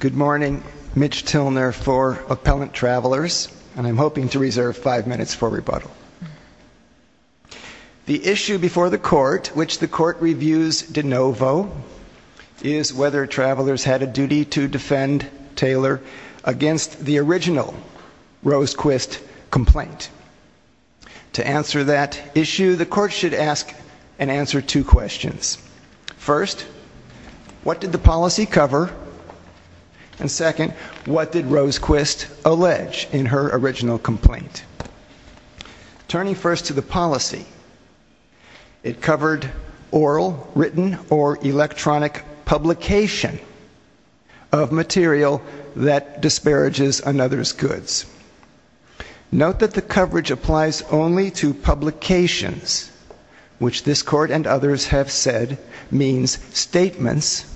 Good morning. Mitch Tilner for Appellant Travelers, and I'm hoping to reserve five minutes for rebuttal. The issue before the Court, which the Court reviews de novo, is whether Travelers had a duty to defend Taylor against the original Rosequist complaint. To answer that issue, the Court should ask and answer two questions. First, what did the policy cover? And second, what did Rosequist allege in her original complaint? Turning first to the policy, it covered oral, written, or electronic publication of material that disparages another's goods. Note that the coverage applies only to publications, which this Court and others have said means statements,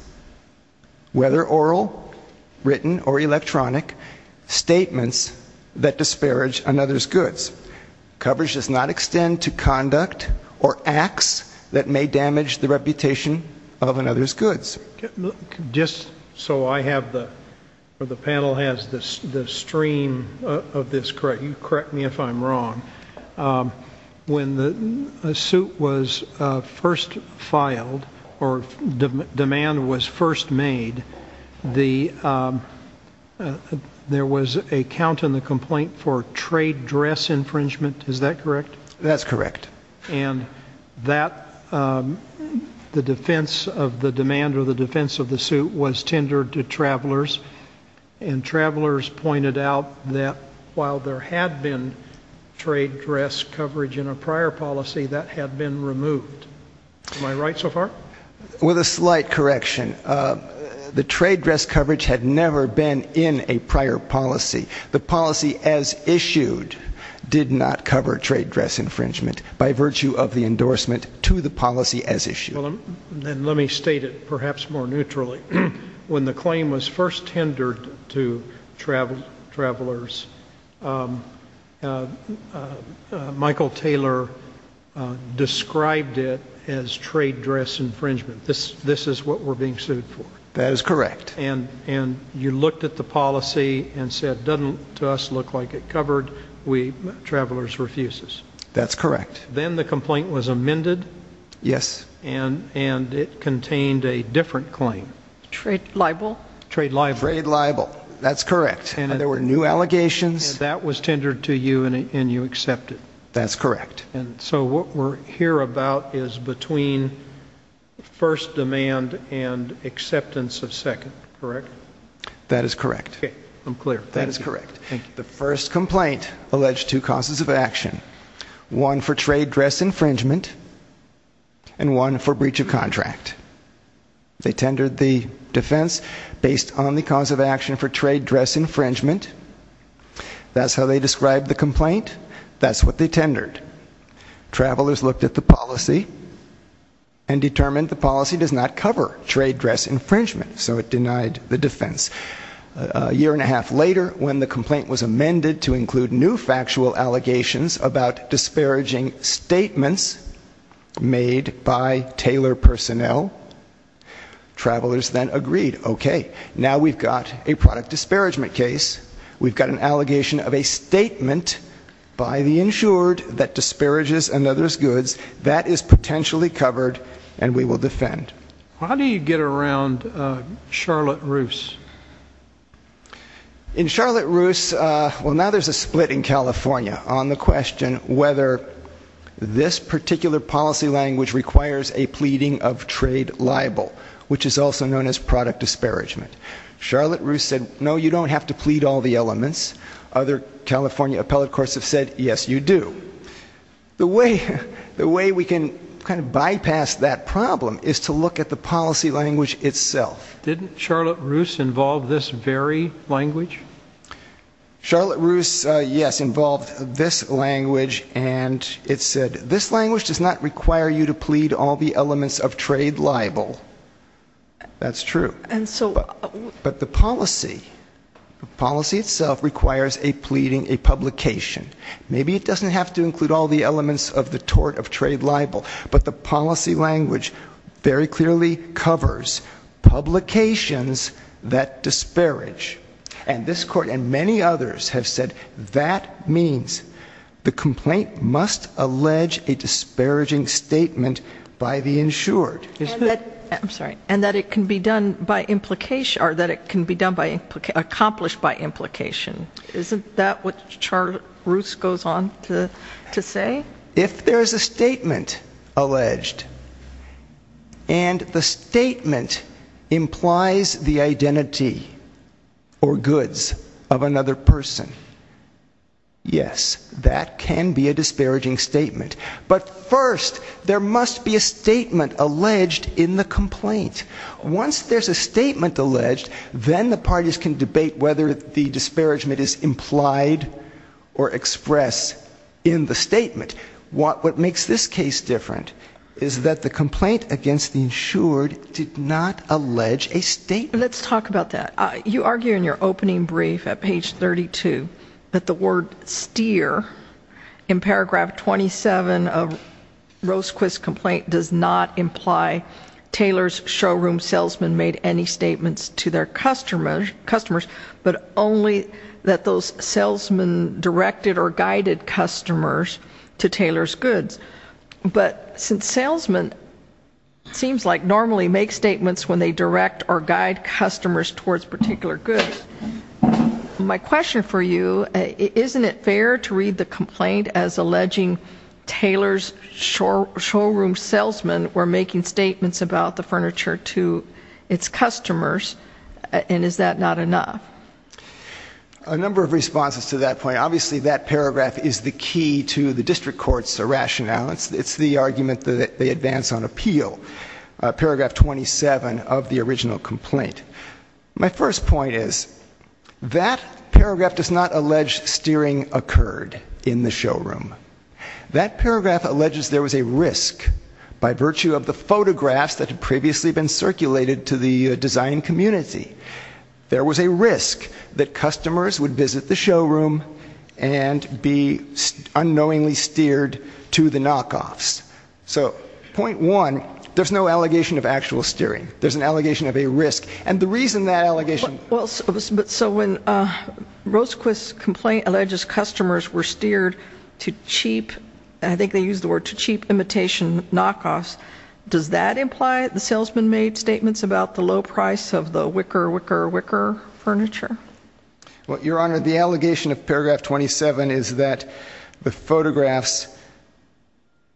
whether oral, written, or electronic, statements that disparage another's goods. Coverage does not extend to conduct or acts that may damage the reputation of another's goods. Just so I have the, or the panel has the stream of this correct, you correct me if I'm wrong. When the suit was first filed, or demand was first made, there was a count in the complaint for trade dress infringement. Is that correct? That's correct. And the defense of the demand or the defense of the suit was tendered to Travelers. And Travelers pointed out that while there had been trade dress coverage in a prior policy, that had been removed. Am I right so far? With a slight correction. The trade dress coverage had never been in a prior policy. The policy as issued did not cover trade dress infringement by virtue of the endorsement to the policy as issued. Then let me state it perhaps more neutrally. When the claim was first tendered to Travelers, Michael Taylor described it as trade dress infringement. This is what we're being sued for. That is correct. And you looked at the policy and said, doesn't to us look like it covered? We, Travelers, refuses. That's correct. Then the complaint was amended. Yes. And it contained a different claim. Trade libel. Trade libel. Trade libel. That's correct. And there were new allegations. That was tendered to you and you accepted. That's correct. And so what we're here about is between first demand and acceptance of second. Correct? That is correct. I'm clear. That is correct. The first complaint alleged two causes of action. One for trade dress infringement and one for breach of contract. They tendered the defense based on the cause of action for trade dress infringement. That's how they described the complaint. That's what they tendered. Travelers looked at the policy and determined the policy does not cover trade dress infringement. So it denied the defense. A year and a half later, when the complaint was amended to include new factual allegations about disparaging statements made by tailor personnel, Travelers then agreed, okay, now we've got a product disparagement case. We've got an allegation of a statement by the insured that disparages another's goods. That is potentially covered and we will defend. How do you get around Charlotte Roos? In Charlotte Roos, well, now there's a split in California on the question whether this particular policy language requires a pleading of trade libel, which is also known as product disparagement. Charlotte Roos said, no, you don't have to plead all the elements. Other California appellate courts have said, yes, you do. The way we can kind of bypass that problem is to look at the policy language itself. Didn't Charlotte Roos involve this very language? Charlotte Roos, yes, involved this language and it said, this language does not require you to plead all the elements of trade libel. That's true. And so- Maybe it doesn't have to include all the elements of the tort of trade libel. But the policy language very clearly covers publications that disparage. And this court and many others have said that means the complaint must allege a disparaging statement by the insured. I'm sorry, and that it can be done by implication, or that it can be accomplished by implication. Isn't that what Charlotte Roos goes on to say? If there's a statement alleged, and the statement implies the identity or goods of another person. Yes, that can be a disparaging statement. But first, there must be a statement alleged in the complaint. Once there's a statement alleged, then the parties can debate whether the disparagement is implied or expressed in the statement. What makes this case different is that the complaint against the insured did not allege a statement. Let's talk about that. You argue in your opening brief at page 32 that the word steer in paragraph 27 of Rosequist's complaint does not imply Taylor's showroom salesman made any statements to their customers. But only that those salesmen directed or guided customers to Taylor's goods. But since salesmen seems like normally make statements when they direct or guide customers towards particular goods, my question for you, isn't it fair to read the complaint as alleging Taylor's showroom salesmen were making statements about the furniture to its customers? And is that not enough? A number of responses to that point. Obviously, that paragraph is the key to the district court's rationale. It's the argument that they advance on appeal. Paragraph 27 of the original complaint. My first point is, that paragraph does not allege steering occurred in the showroom. That paragraph alleges there was a risk by virtue of the photographs that the design community, there was a risk that customers would visit the showroom. And be unknowingly steered to the knockoffs. So, point one, there's no allegation of actual steering. There's an allegation of a risk. And the reason that allegation- Well, so when Rosequist's complaint alleges customers were steered to cheap, I think they used the word, to cheap imitation knockoffs. Does that imply that the salesman made statements about the low price of the wicker, wicker, wicker furniture? Well, your honor, the allegation of paragraph 27 is that the photographs,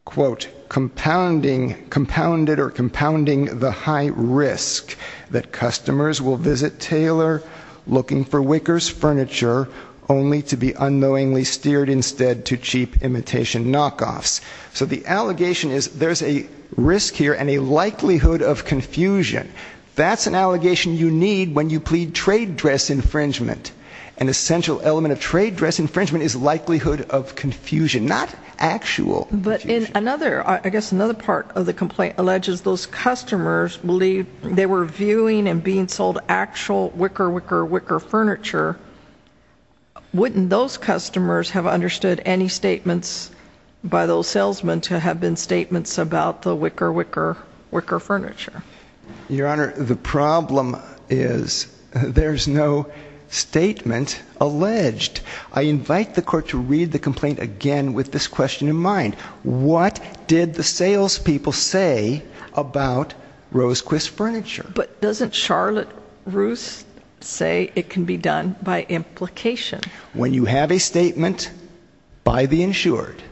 quote, compounding, compounded or compounding the high risk. That customers will visit Taylor looking for wicker's furniture only to be unknowingly steered instead to cheap imitation knockoffs. So the allegation is there's a risk here and a likelihood of confusion. That's an allegation you need when you plead trade dress infringement. An essential element of trade dress infringement is likelihood of confusion, not actual confusion. But in another, I guess another part of the complaint alleges those customers believe they were viewing and being sold actual wicker, wicker, wicker furniture. Wouldn't those customers have understood any statements by those salesmen to have been statements about the wicker, wicker, wicker furniture? Your honor, the problem is there's no statement alleged. I invite the court to read the complaint again with this question in mind. What did the salespeople say about Rosequist Furniture? But doesn't Charlotte Roos say it can be done by implication? When you have a statement by the insured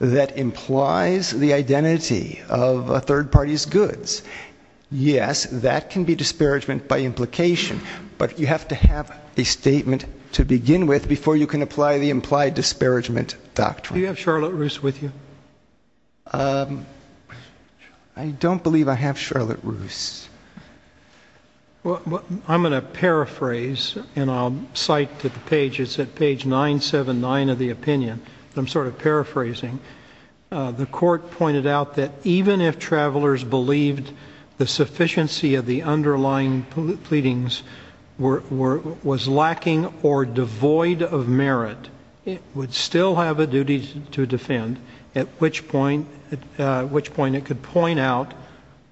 that implies the identity of a third party's goods. Yes, that can be disparagement by implication. But you have to have a statement to begin with before you can apply the implied disparagement doctrine. Do you have Charlotte Roos with you? I don't believe I have Charlotte Roos. Well, I'm going to paraphrase, and I'll cite the page. It's at page 979 of the opinion. I'm sort of paraphrasing. The court pointed out that even if travelers believed the sufficiency of the goods, it would still have a duty to defend, at which point it could point out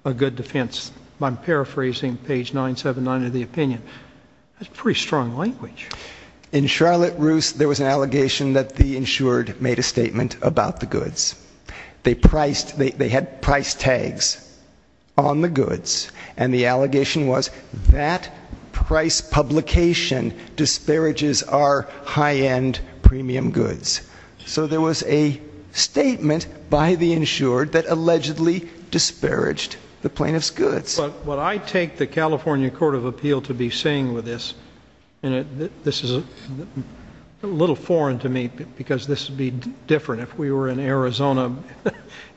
a good defense, by paraphrasing page 979 of the opinion. That's pretty strong language. In Charlotte Roos, there was an allegation that the insured made a statement about the goods. They had price tags on the goods. And the allegation was that price publication disparages our high-end premium goods. So there was a statement by the insured that allegedly disparaged the plaintiff's goods. What I take the California Court of Appeal to be saying with this, and this is a little foreign to me because this would be different if we were in Arizona.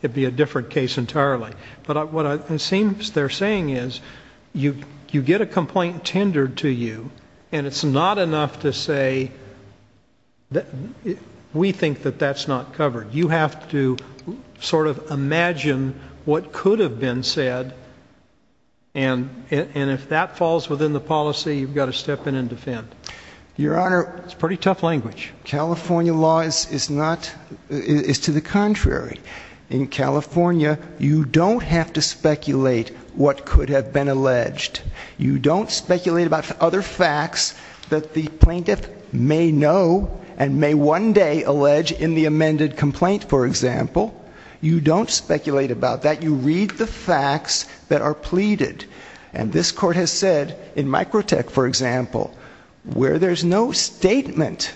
It'd be a different case entirely. But what it seems they're saying is, you get a complaint tendered to you, and it's not enough to say, we think that that's not covered. You have to sort of imagine what could have been said. And if that falls within the policy, you've got to step in and defend. Your Honor- It's pretty tough language. California law is to the contrary. In California, you don't have to speculate what could have been alleged. You don't speculate about other facts that the plaintiff may know and may one day allege in the amended complaint, for example. You don't speculate about that. You read the facts that are pleaded. And this court has said, in Microtech, for example, where there's no statement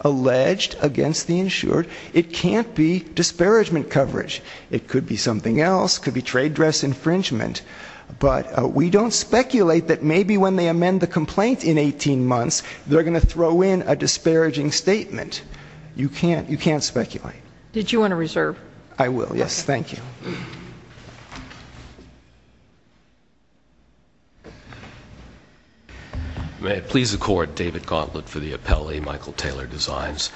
alleged against the insured, it can't be disparagement coverage. It could be something else, could be trade dress infringement. But we don't speculate that maybe when they amend the complaint in 18 months, they're going to throw in a disparaging statement. You can't speculate. Did you want to reserve? I will, yes. Thank you. May it please the court, David Gauntlet for the appellee, Michael Taylor Designs.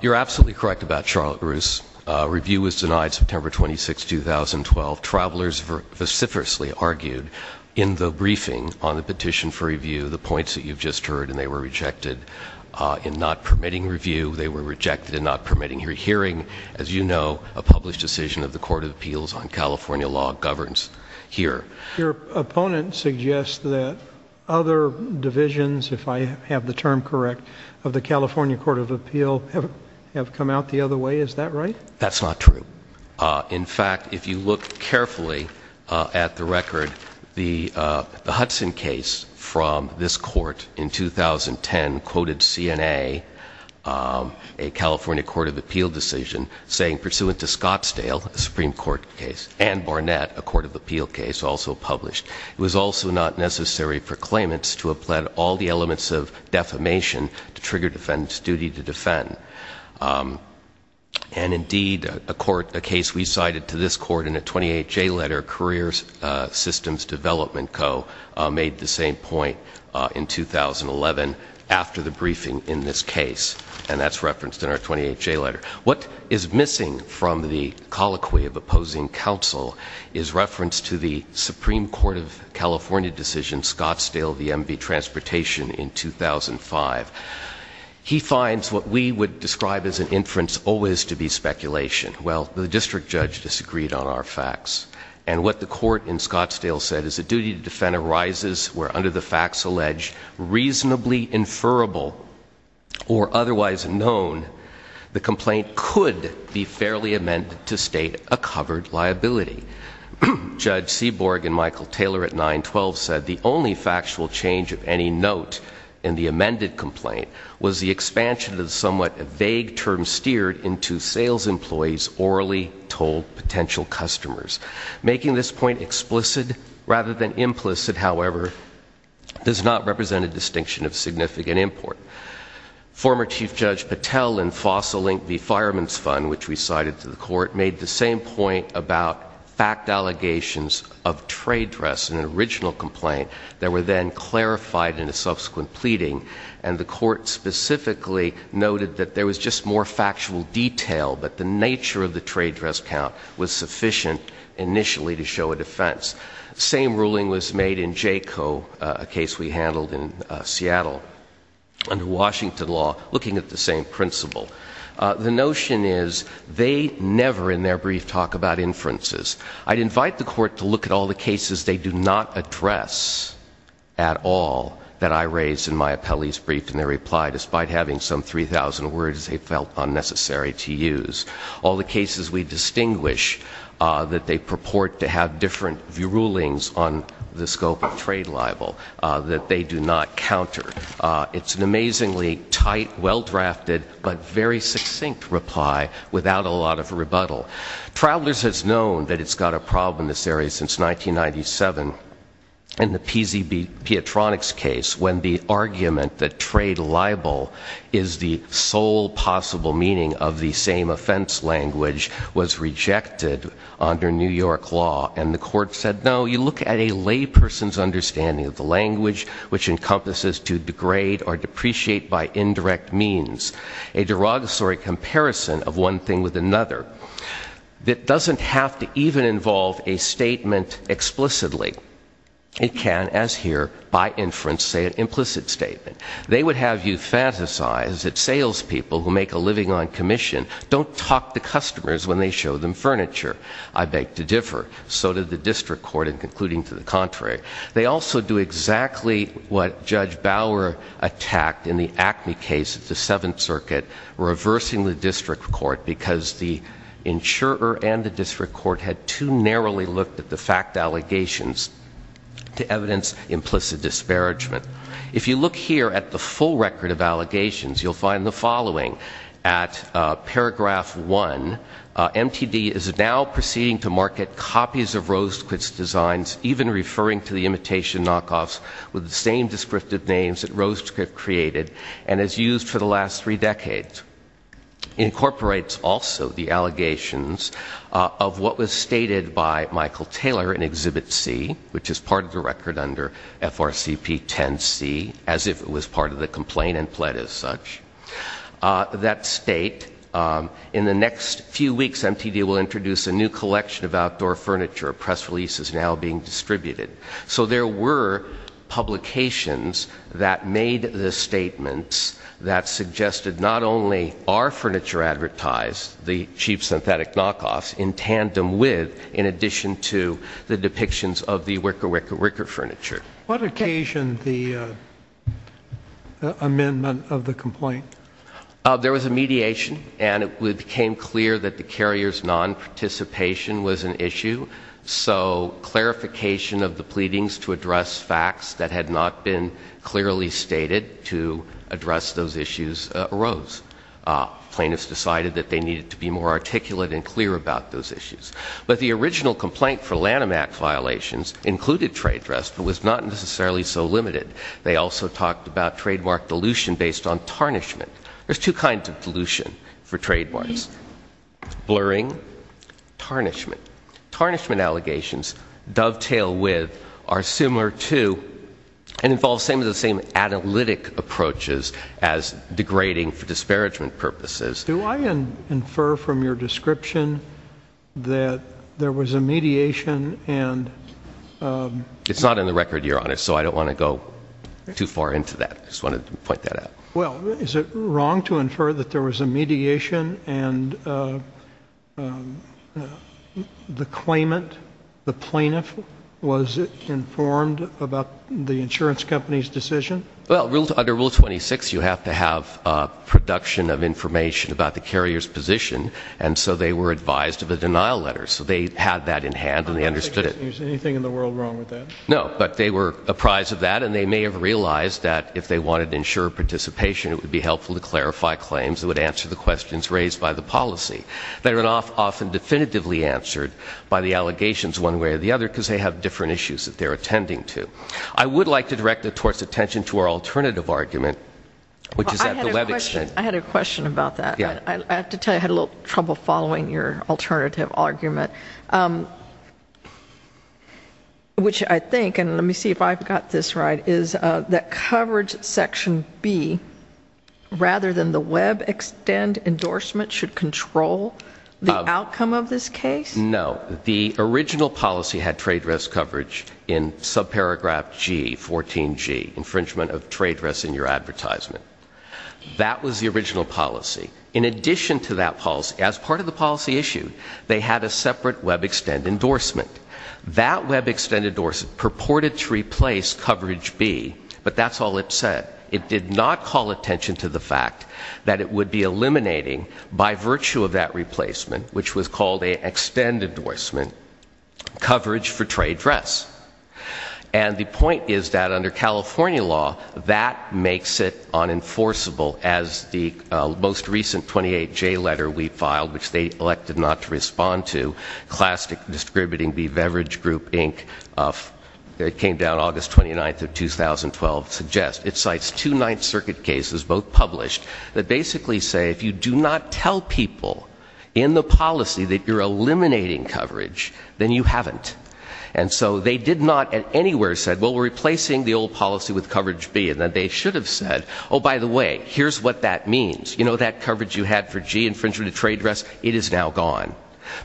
You're absolutely correct about Charlotte Bruce. Review was denied September 26, 2012. Travelers vociferously argued in the briefing on the petition for review the points that you've just heard and they were rejected in not permitting review. They were rejected in not permitting your hearing. As you know, a published decision of the Court of Appeals on California law governs here. Your opponent suggests that other divisions, if I have the term correct, of the California Court of Appeal have come out the other way, is that right? That's not true. In fact, if you look carefully at the record, the Hudson case from this court in 2010 quoted CNA, a California Court of Appeal decision, saying pursuant to Scottsdale, a Supreme Court case, and Barnett, a Court of Appeal case, also published. It was also not necessary for claimants to have pled all the elements of defamation to trigger defendant's duty to defend. And indeed, a case we cited to this court in a 28-J letter, Careers Systems Development Co, made the same point in 2011 after the briefing in this case. And that's referenced in our 28-J letter. What is missing from the colloquy of opposing counsel is reference to the Supreme Court of California decision, Scottsdale v. MV Transportation in 2005. He finds what we would describe as an inference always to be speculation. Well, the district judge disagreed on our facts. And what the court in Scottsdale said is a duty to defend arises where under the facts alleged, reasonably inferable or otherwise known, the complaint could be fairly amended to state a covered liability. Judge Seaborg and Michael Taylor at 912 said the only factual change of any note in the amended complaint was the expansion of the somewhat vague term steered into sales employees, orally told potential customers. Making this point explicit rather than implicit, however, does not represent a distinction of significant import. Former Chief Judge Patel and Fossil Inc, the fireman's fund, which we cited to the court, made the same point about fact allegations of trade dress in an original complaint that were then clarified in a subsequent pleading. And the court specifically noted that there was just more factual detail, but the nature of the trade dress count was sufficient initially to show a defense. Same ruling was made in Jayco, a case we handled in Seattle. Under Washington law, looking at the same principle. The notion is they never in their brief talk about inferences. I'd invite the court to look at all the cases they do not address at all that I raised in my appellee's brief and their reply despite having some 3,000 words they felt unnecessary to use. All the cases we distinguish that they purport to have different view rulings on the scope of trade libel that they do not counter. It's an amazingly tight, well drafted, but very succinct reply without a lot of rebuttal. Travelers has known that it's got a problem in this area since 1997. In the PZB, Petronix case, when the argument that trade libel is the sole possible meaning of the same offense language was rejected under New York law. And the court said, no, you look at a lay person's understanding of the language, which encompasses to degrade or depreciate by indirect means. A derogatory comparison of one thing with another that doesn't have to even involve a statement explicitly. It can, as here, by inference, say an implicit statement. They would have you fantasize that sales people who make a living on commission don't talk to customers when they show them furniture. I beg to differ. They also do exactly what Judge Bauer attacked in the Acme case, the Seventh Circuit, reversing the district court because the insurer and the district court had too narrowly looked at the fact allegations to evidence implicit disparagement. If you look here at the full record of allegations, you'll find the following. At paragraph one, MTD is now proceeding to market copies of Rosequit's designs, even referring to the imitation knockoffs with the same descriptive names that Rosequit created, and has used for the last three decades. Incorporates also the allegations of what was stated by Michael Taylor in Exhibit C, which is part of the record under FRCP 10C, as if it was part of the complaint and pled as such. That state, in the next few weeks, MTD will introduce a new collection of outdoor furniture. Press release is now being distributed. So there were publications that made the statements that suggested not only are furniture advertised, the cheap synthetic knockoffs, in tandem with, in addition to the depictions of the wicker, wicker, wicker furniture. What occasion the amendment of the complaint? There was a mediation, and it became clear that the carrier's non-participation was an issue. So clarification of the pleadings to address facts that had not been clearly stated to address those issues arose. Plaintiffs decided that they needed to be more articulate and clear about those issues. But the original complaint for Lanham Act violations included trade dress, but was not necessarily so limited. They also talked about trademark dilution based on tarnishment. There's two kinds of dilution for trademarks, blurring, tarnishment. Tarnishment allegations dovetail with, are similar to, and involve the same analytic approaches as degrading for disparagement purposes. Do I infer from your description that there was a mediation and- It's not in the record, your honor, so I don't want to go too far into that. I just wanted to point that out. Well, is it wrong to infer that there was a mediation and the claimant, the plaintiff, was informed about the insurance company's decision? Well, under Rule 26, you have to have production of information about the carrier's position. And so they were advised of a denial letter. So they had that in hand and they understood it. Is there anything in the world wrong with that? No, but they were apprised of that and they may have realized that if they wanted to ensure participation, it would be helpful to clarify claims that would answer the questions raised by the policy. They're often definitively answered by the allegations one way or the other because they have different issues that they're attending to. I would like to direct it towards attention to our alternative argument, which is at the web extent. I had a question about that. I have to tell you, I had a little trouble following your alternative argument. Which I think, and let me see if I've got this right, is that coverage section B, rather than the web extend endorsement, should control the outcome of this case? No, the original policy had trade risk coverage in subparagraph G, 14G, infringement of trade risks in your advertisement. That was the original policy. In addition to that policy, as part of the policy issue, they had a separate web extend endorsement. That web extend endorsement purported to replace coverage B, but that's all it said. It did not call attention to the fact that it would be eliminating, by virtue of that replacement, which was called a extend endorsement, coverage for trade threats. And the point is that under California law, that makes it unenforceable, as the most recent 28J letter we filed, which they elected not to respond to, Classic Distributing B, Beverage Group, Inc., it came down August 29th of 2012, suggests it cites two Ninth Circuit cases, both published, that basically say, if you do not tell people in the policy that you're eliminating coverage, then you haven't. And so they did not, at anywhere, said, well, we're replacing the old policy with coverage B. And then they should have said, by the way, here's what that means. You know that coverage you had for G infringement of trade risks? It is now gone,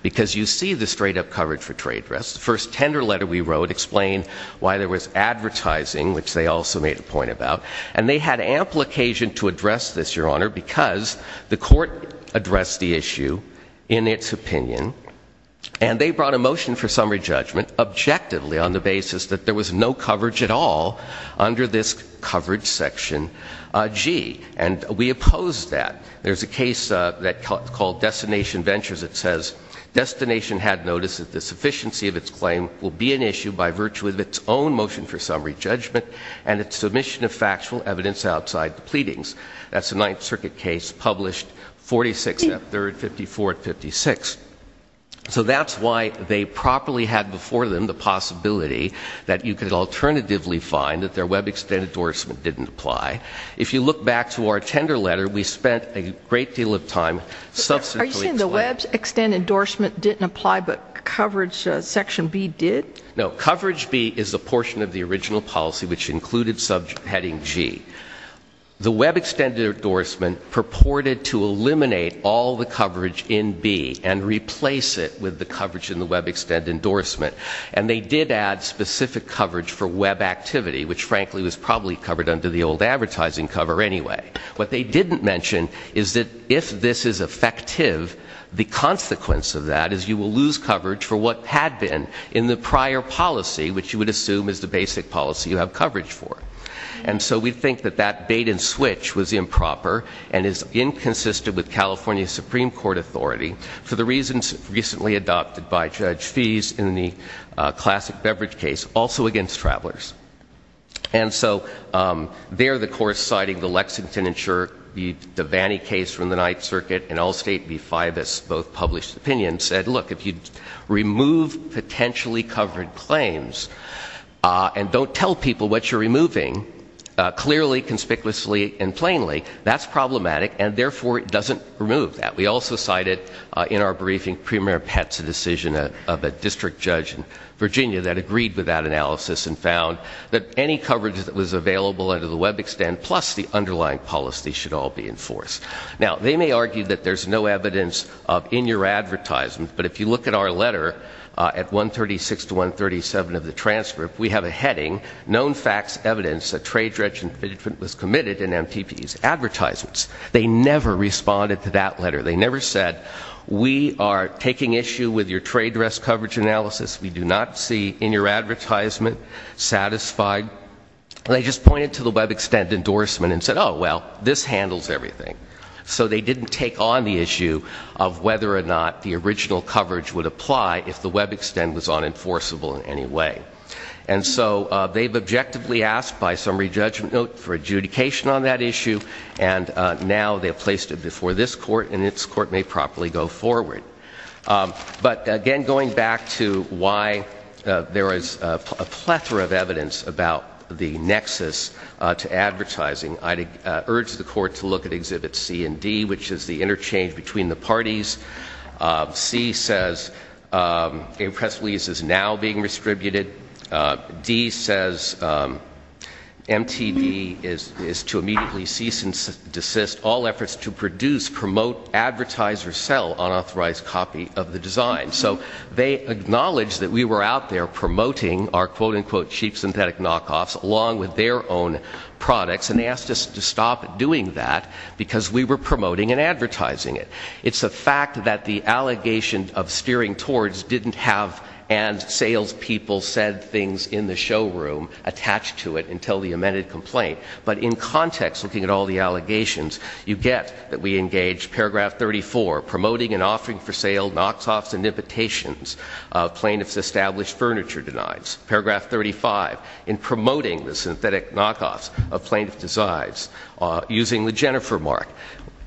because you see the straight up coverage for trade risks. The first tender letter we wrote explained why there was advertising, which they also made a point about. And they had ample occasion to address this, your honor, because the court addressed the issue in its opinion. And they brought a motion for summary judgment, objectively, on the basis that there was no coverage at all under this coverage section G. And we opposed that. There's a case called Destination Ventures that says, Destination had noticed that the sufficiency of its claim will be an issue by virtue of its own motion for summary judgment and its submission of factual evidence outside the pleadings. That's a Ninth Circuit case published 46th, 53rd, 54th, 56th. So that's why they properly had before them the possibility that you could alternatively find that their web extended endorsement didn't apply. If you look back to our tender letter, we spent a great deal of time. Are you saying the web extended endorsement didn't apply, but coverage section B did? No, coverage B is a portion of the original policy, which included heading G. The web extended endorsement purported to eliminate all the coverage in B and replace it with the coverage in the web extend endorsement. And they did add specific coverage for web activity, which frankly was probably covered under the old advertising cover anyway. What they didn't mention is that if this is effective, the consequence of that is you will lose coverage for what had been in the prior policy, which you would assume is the basic policy you have coverage for. And so we think that that bait and switch was improper and is inconsistent with California Supreme Court authority for the reasons recently adopted by Judge Fees in the classic beverage case, also against travelers. And so, there the court's citing the Lexington insurer, the Devaney case from the Ninth Circuit, and Allstate v. Fibus, both published opinions, said, look, if you remove potentially covered claims, and don't tell people what you're removing, clearly, conspicuously, and plainly, that's problematic. And therefore, it doesn't remove that. We also cited, in our briefing, Premier Pat's decision of a district judge in Virginia that agreed with that analysis and found that any coverage that was available under the web extend, plus the underlying policy, should all be enforced. Now, they may argue that there's no evidence of in your advertisement, but if you look at our letter at 136 to 137 of the transcript, we have a heading. Known facts, evidence, a trade regiment was committed in MPP's advertisements. They never responded to that letter. They never said, we are taking issue with your trade dress coverage analysis. We do not see in your advertisement satisfied. They just pointed to the web extend endorsement and said, well, this handles everything. So they didn't take on the issue of whether or not the original coverage would apply if the web extend was unenforceable in any way. And so, they've objectively asked by summary judgment note for adjudication on that issue. And now, they've placed it before this court, and this court may properly go forward. But again, going back to why there is a plethora of evidence about the nexus to advertising, I'd urge the court to look at exhibit C and D, which is the interchange between the parties. C says, a press release is now being restributed. D says, MTD is to immediately cease and desist all efforts to produce, promote, advertise, or sell unauthorized copy of the design. So they acknowledge that we were out there promoting our quote unquote cheap synthetic knockoffs along with their own products. And they asked us to stop doing that because we were promoting and advertising it. It's a fact that the allegation of steering towards didn't have and sales people said things in the showroom attached to it until the amended complaint. But in context, looking at all the allegations, you get that we engaged paragraph 34, promoting and offering for sale knockoffs and imitations of plaintiff's established furniture denies. Paragraph 35, in promoting the synthetic knockoffs of plaintiff's designs using the Jennifer mark.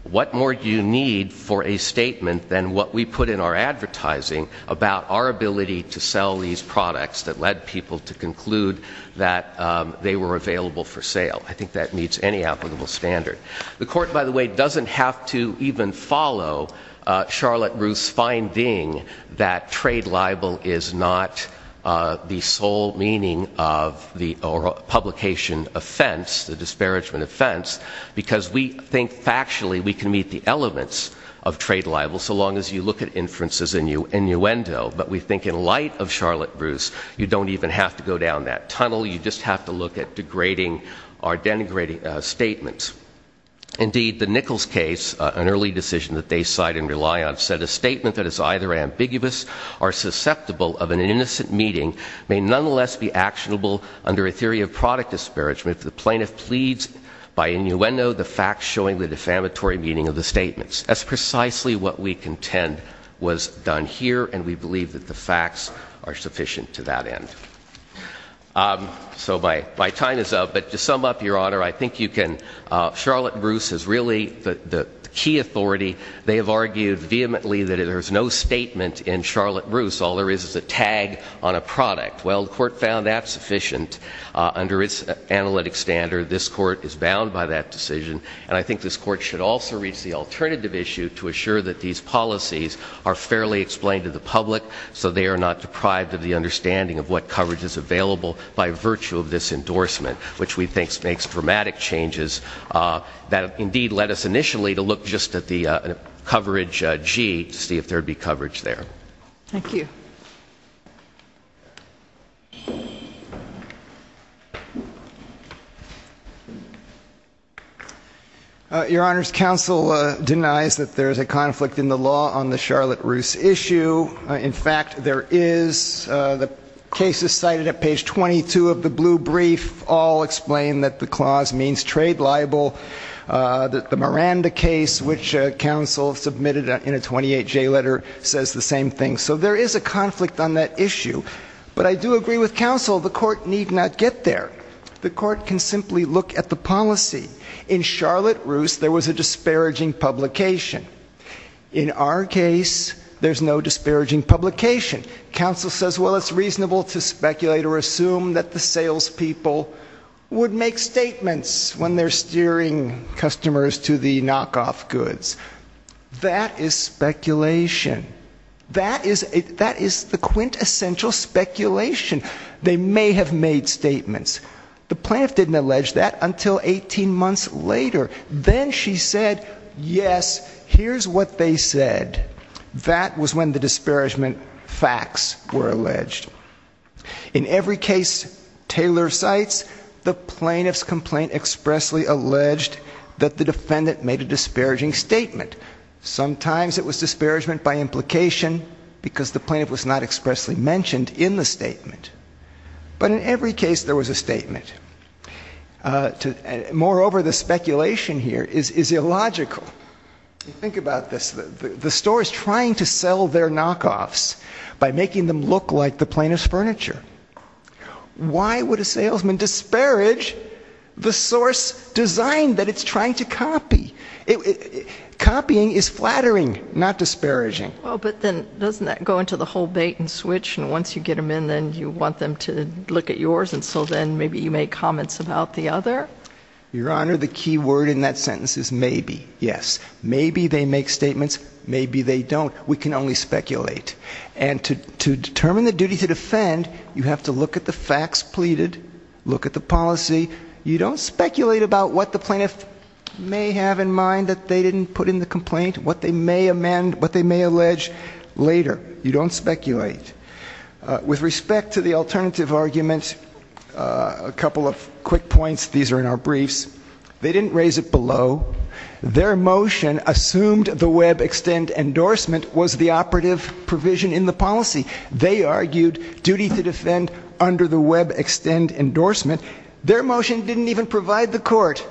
What more do you need for a statement than what we put in our advertising about our ability to sell these products that led people to conclude that they were available for sale. I think that meets any applicable standard. The court, by the way, doesn't have to even follow Charlotte Ruth's finding that trade libel is not the sole meaning of the publication offense, the disparagement offense, because we think factually we can meet the elements of trade libel so long as you look at inferences in your innuendo, but we think in light of Charlotte Ruth's, you don't even have to go down that tunnel. You just have to look at degrading or denigrating statements. Indeed, the Nichols case, an early decision that they side and rely on, said a statement that is either ambiguous or susceptible of an innocent meeting may nonetheless be actionable under a theory of product disparagement. If the plaintiff pleads by innuendo, the facts showing the defamatory meaning of the statements. That's precisely what we contend was done here, and we believe that the facts are sufficient to that end. So my time is up, but to sum up, Your Honor, I think you can, Charlotte Bruce is really the key authority. They have argued vehemently that there's no statement in Charlotte Bruce, all there is is a tag on a product. Well, the court found that sufficient under its analytic standard. This court is bound by that decision, and I think this court should also reach the alternative issue to assure that these policies are fairly explained to the public so they are not deprived of the understanding of what coverage is available by virtue of this endorsement. Which we think makes dramatic changes that indeed let us initially to look just at the coverage G to see if there'd be coverage there. Thank you. Your Honor's counsel denies that there's a conflict in the law on the Charlotte Bruce issue. In fact, there is. The case is cited at page 22 of the blue brief, all explain that the clause means trade libel. The Miranda case, which counsel submitted in a 28-J letter, says the same thing. So there is a conflict on that issue. But I do agree with counsel, the court need not get there. The court can simply look at the policy. In Charlotte Bruce, there was a disparaging publication. In our case, there's no disparaging publication. Counsel says, well, it's reasonable to speculate or assume that the salespeople would make statements when they're steering customers to the knockoff goods. That is speculation. That is the quintessential speculation. They may have made statements. The plaintiff didn't allege that until 18 months later. Then she said, yes, here's what they said. That was when the disparagement facts were alleged. In every case Taylor cites, the plaintiff's complaint expressly alleged that the defendant made a disparaging statement. Sometimes it was disparagement by implication, because the plaintiff was not expressly mentioned in the statement. But in every case, there was a statement. Moreover, the speculation here is illogical. Think about this. The store is trying to sell their knockoffs by making them look like the plaintiff's furniture. Why would a salesman disparage the source design that it's trying to copy? Copying is flattering, not disparaging. But then doesn't that go into the whole bait and switch? And once you get them in, then you want them to look at yours. And so then maybe you make comments about the other? Your Honor, the key word in that sentence is maybe. Yes, maybe they make statements, maybe they don't. We can only speculate. And to determine the duty to defend, you have to look at the facts pleaded, look at the policy. You don't speculate about what the plaintiff may have in mind that they didn't put in the complaint, what they may amend, what they may allege later. You don't speculate. With respect to the alternative argument, a couple of quick points, these are in our briefs. They didn't raise it below. Their motion assumed the WebExtend endorsement was the operative provision in the policy. They argued duty to defend under the WebExtend endorsement. Their motion didn't even provide the court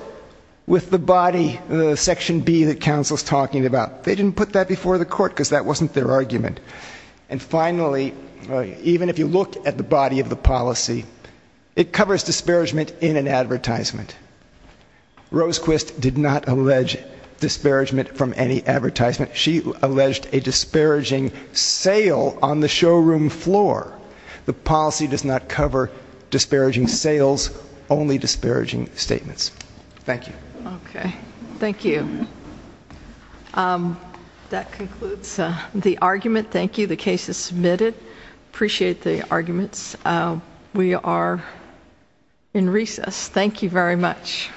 with the body, the section B that counsel's talking about. They didn't put that before the court because that wasn't their argument. And finally, even if you look at the body of the policy, it covers disparagement in an advertisement. Rose Quist did not allege disparagement from any advertisement. She alleged a disparaging sale on the showroom floor. The policy does not cover disparaging sales, only disparaging statements. Thank you. Okay, thank you. That concludes the argument. Thank you, the case is submitted. Appreciate the arguments. We are in recess. Thank you very much.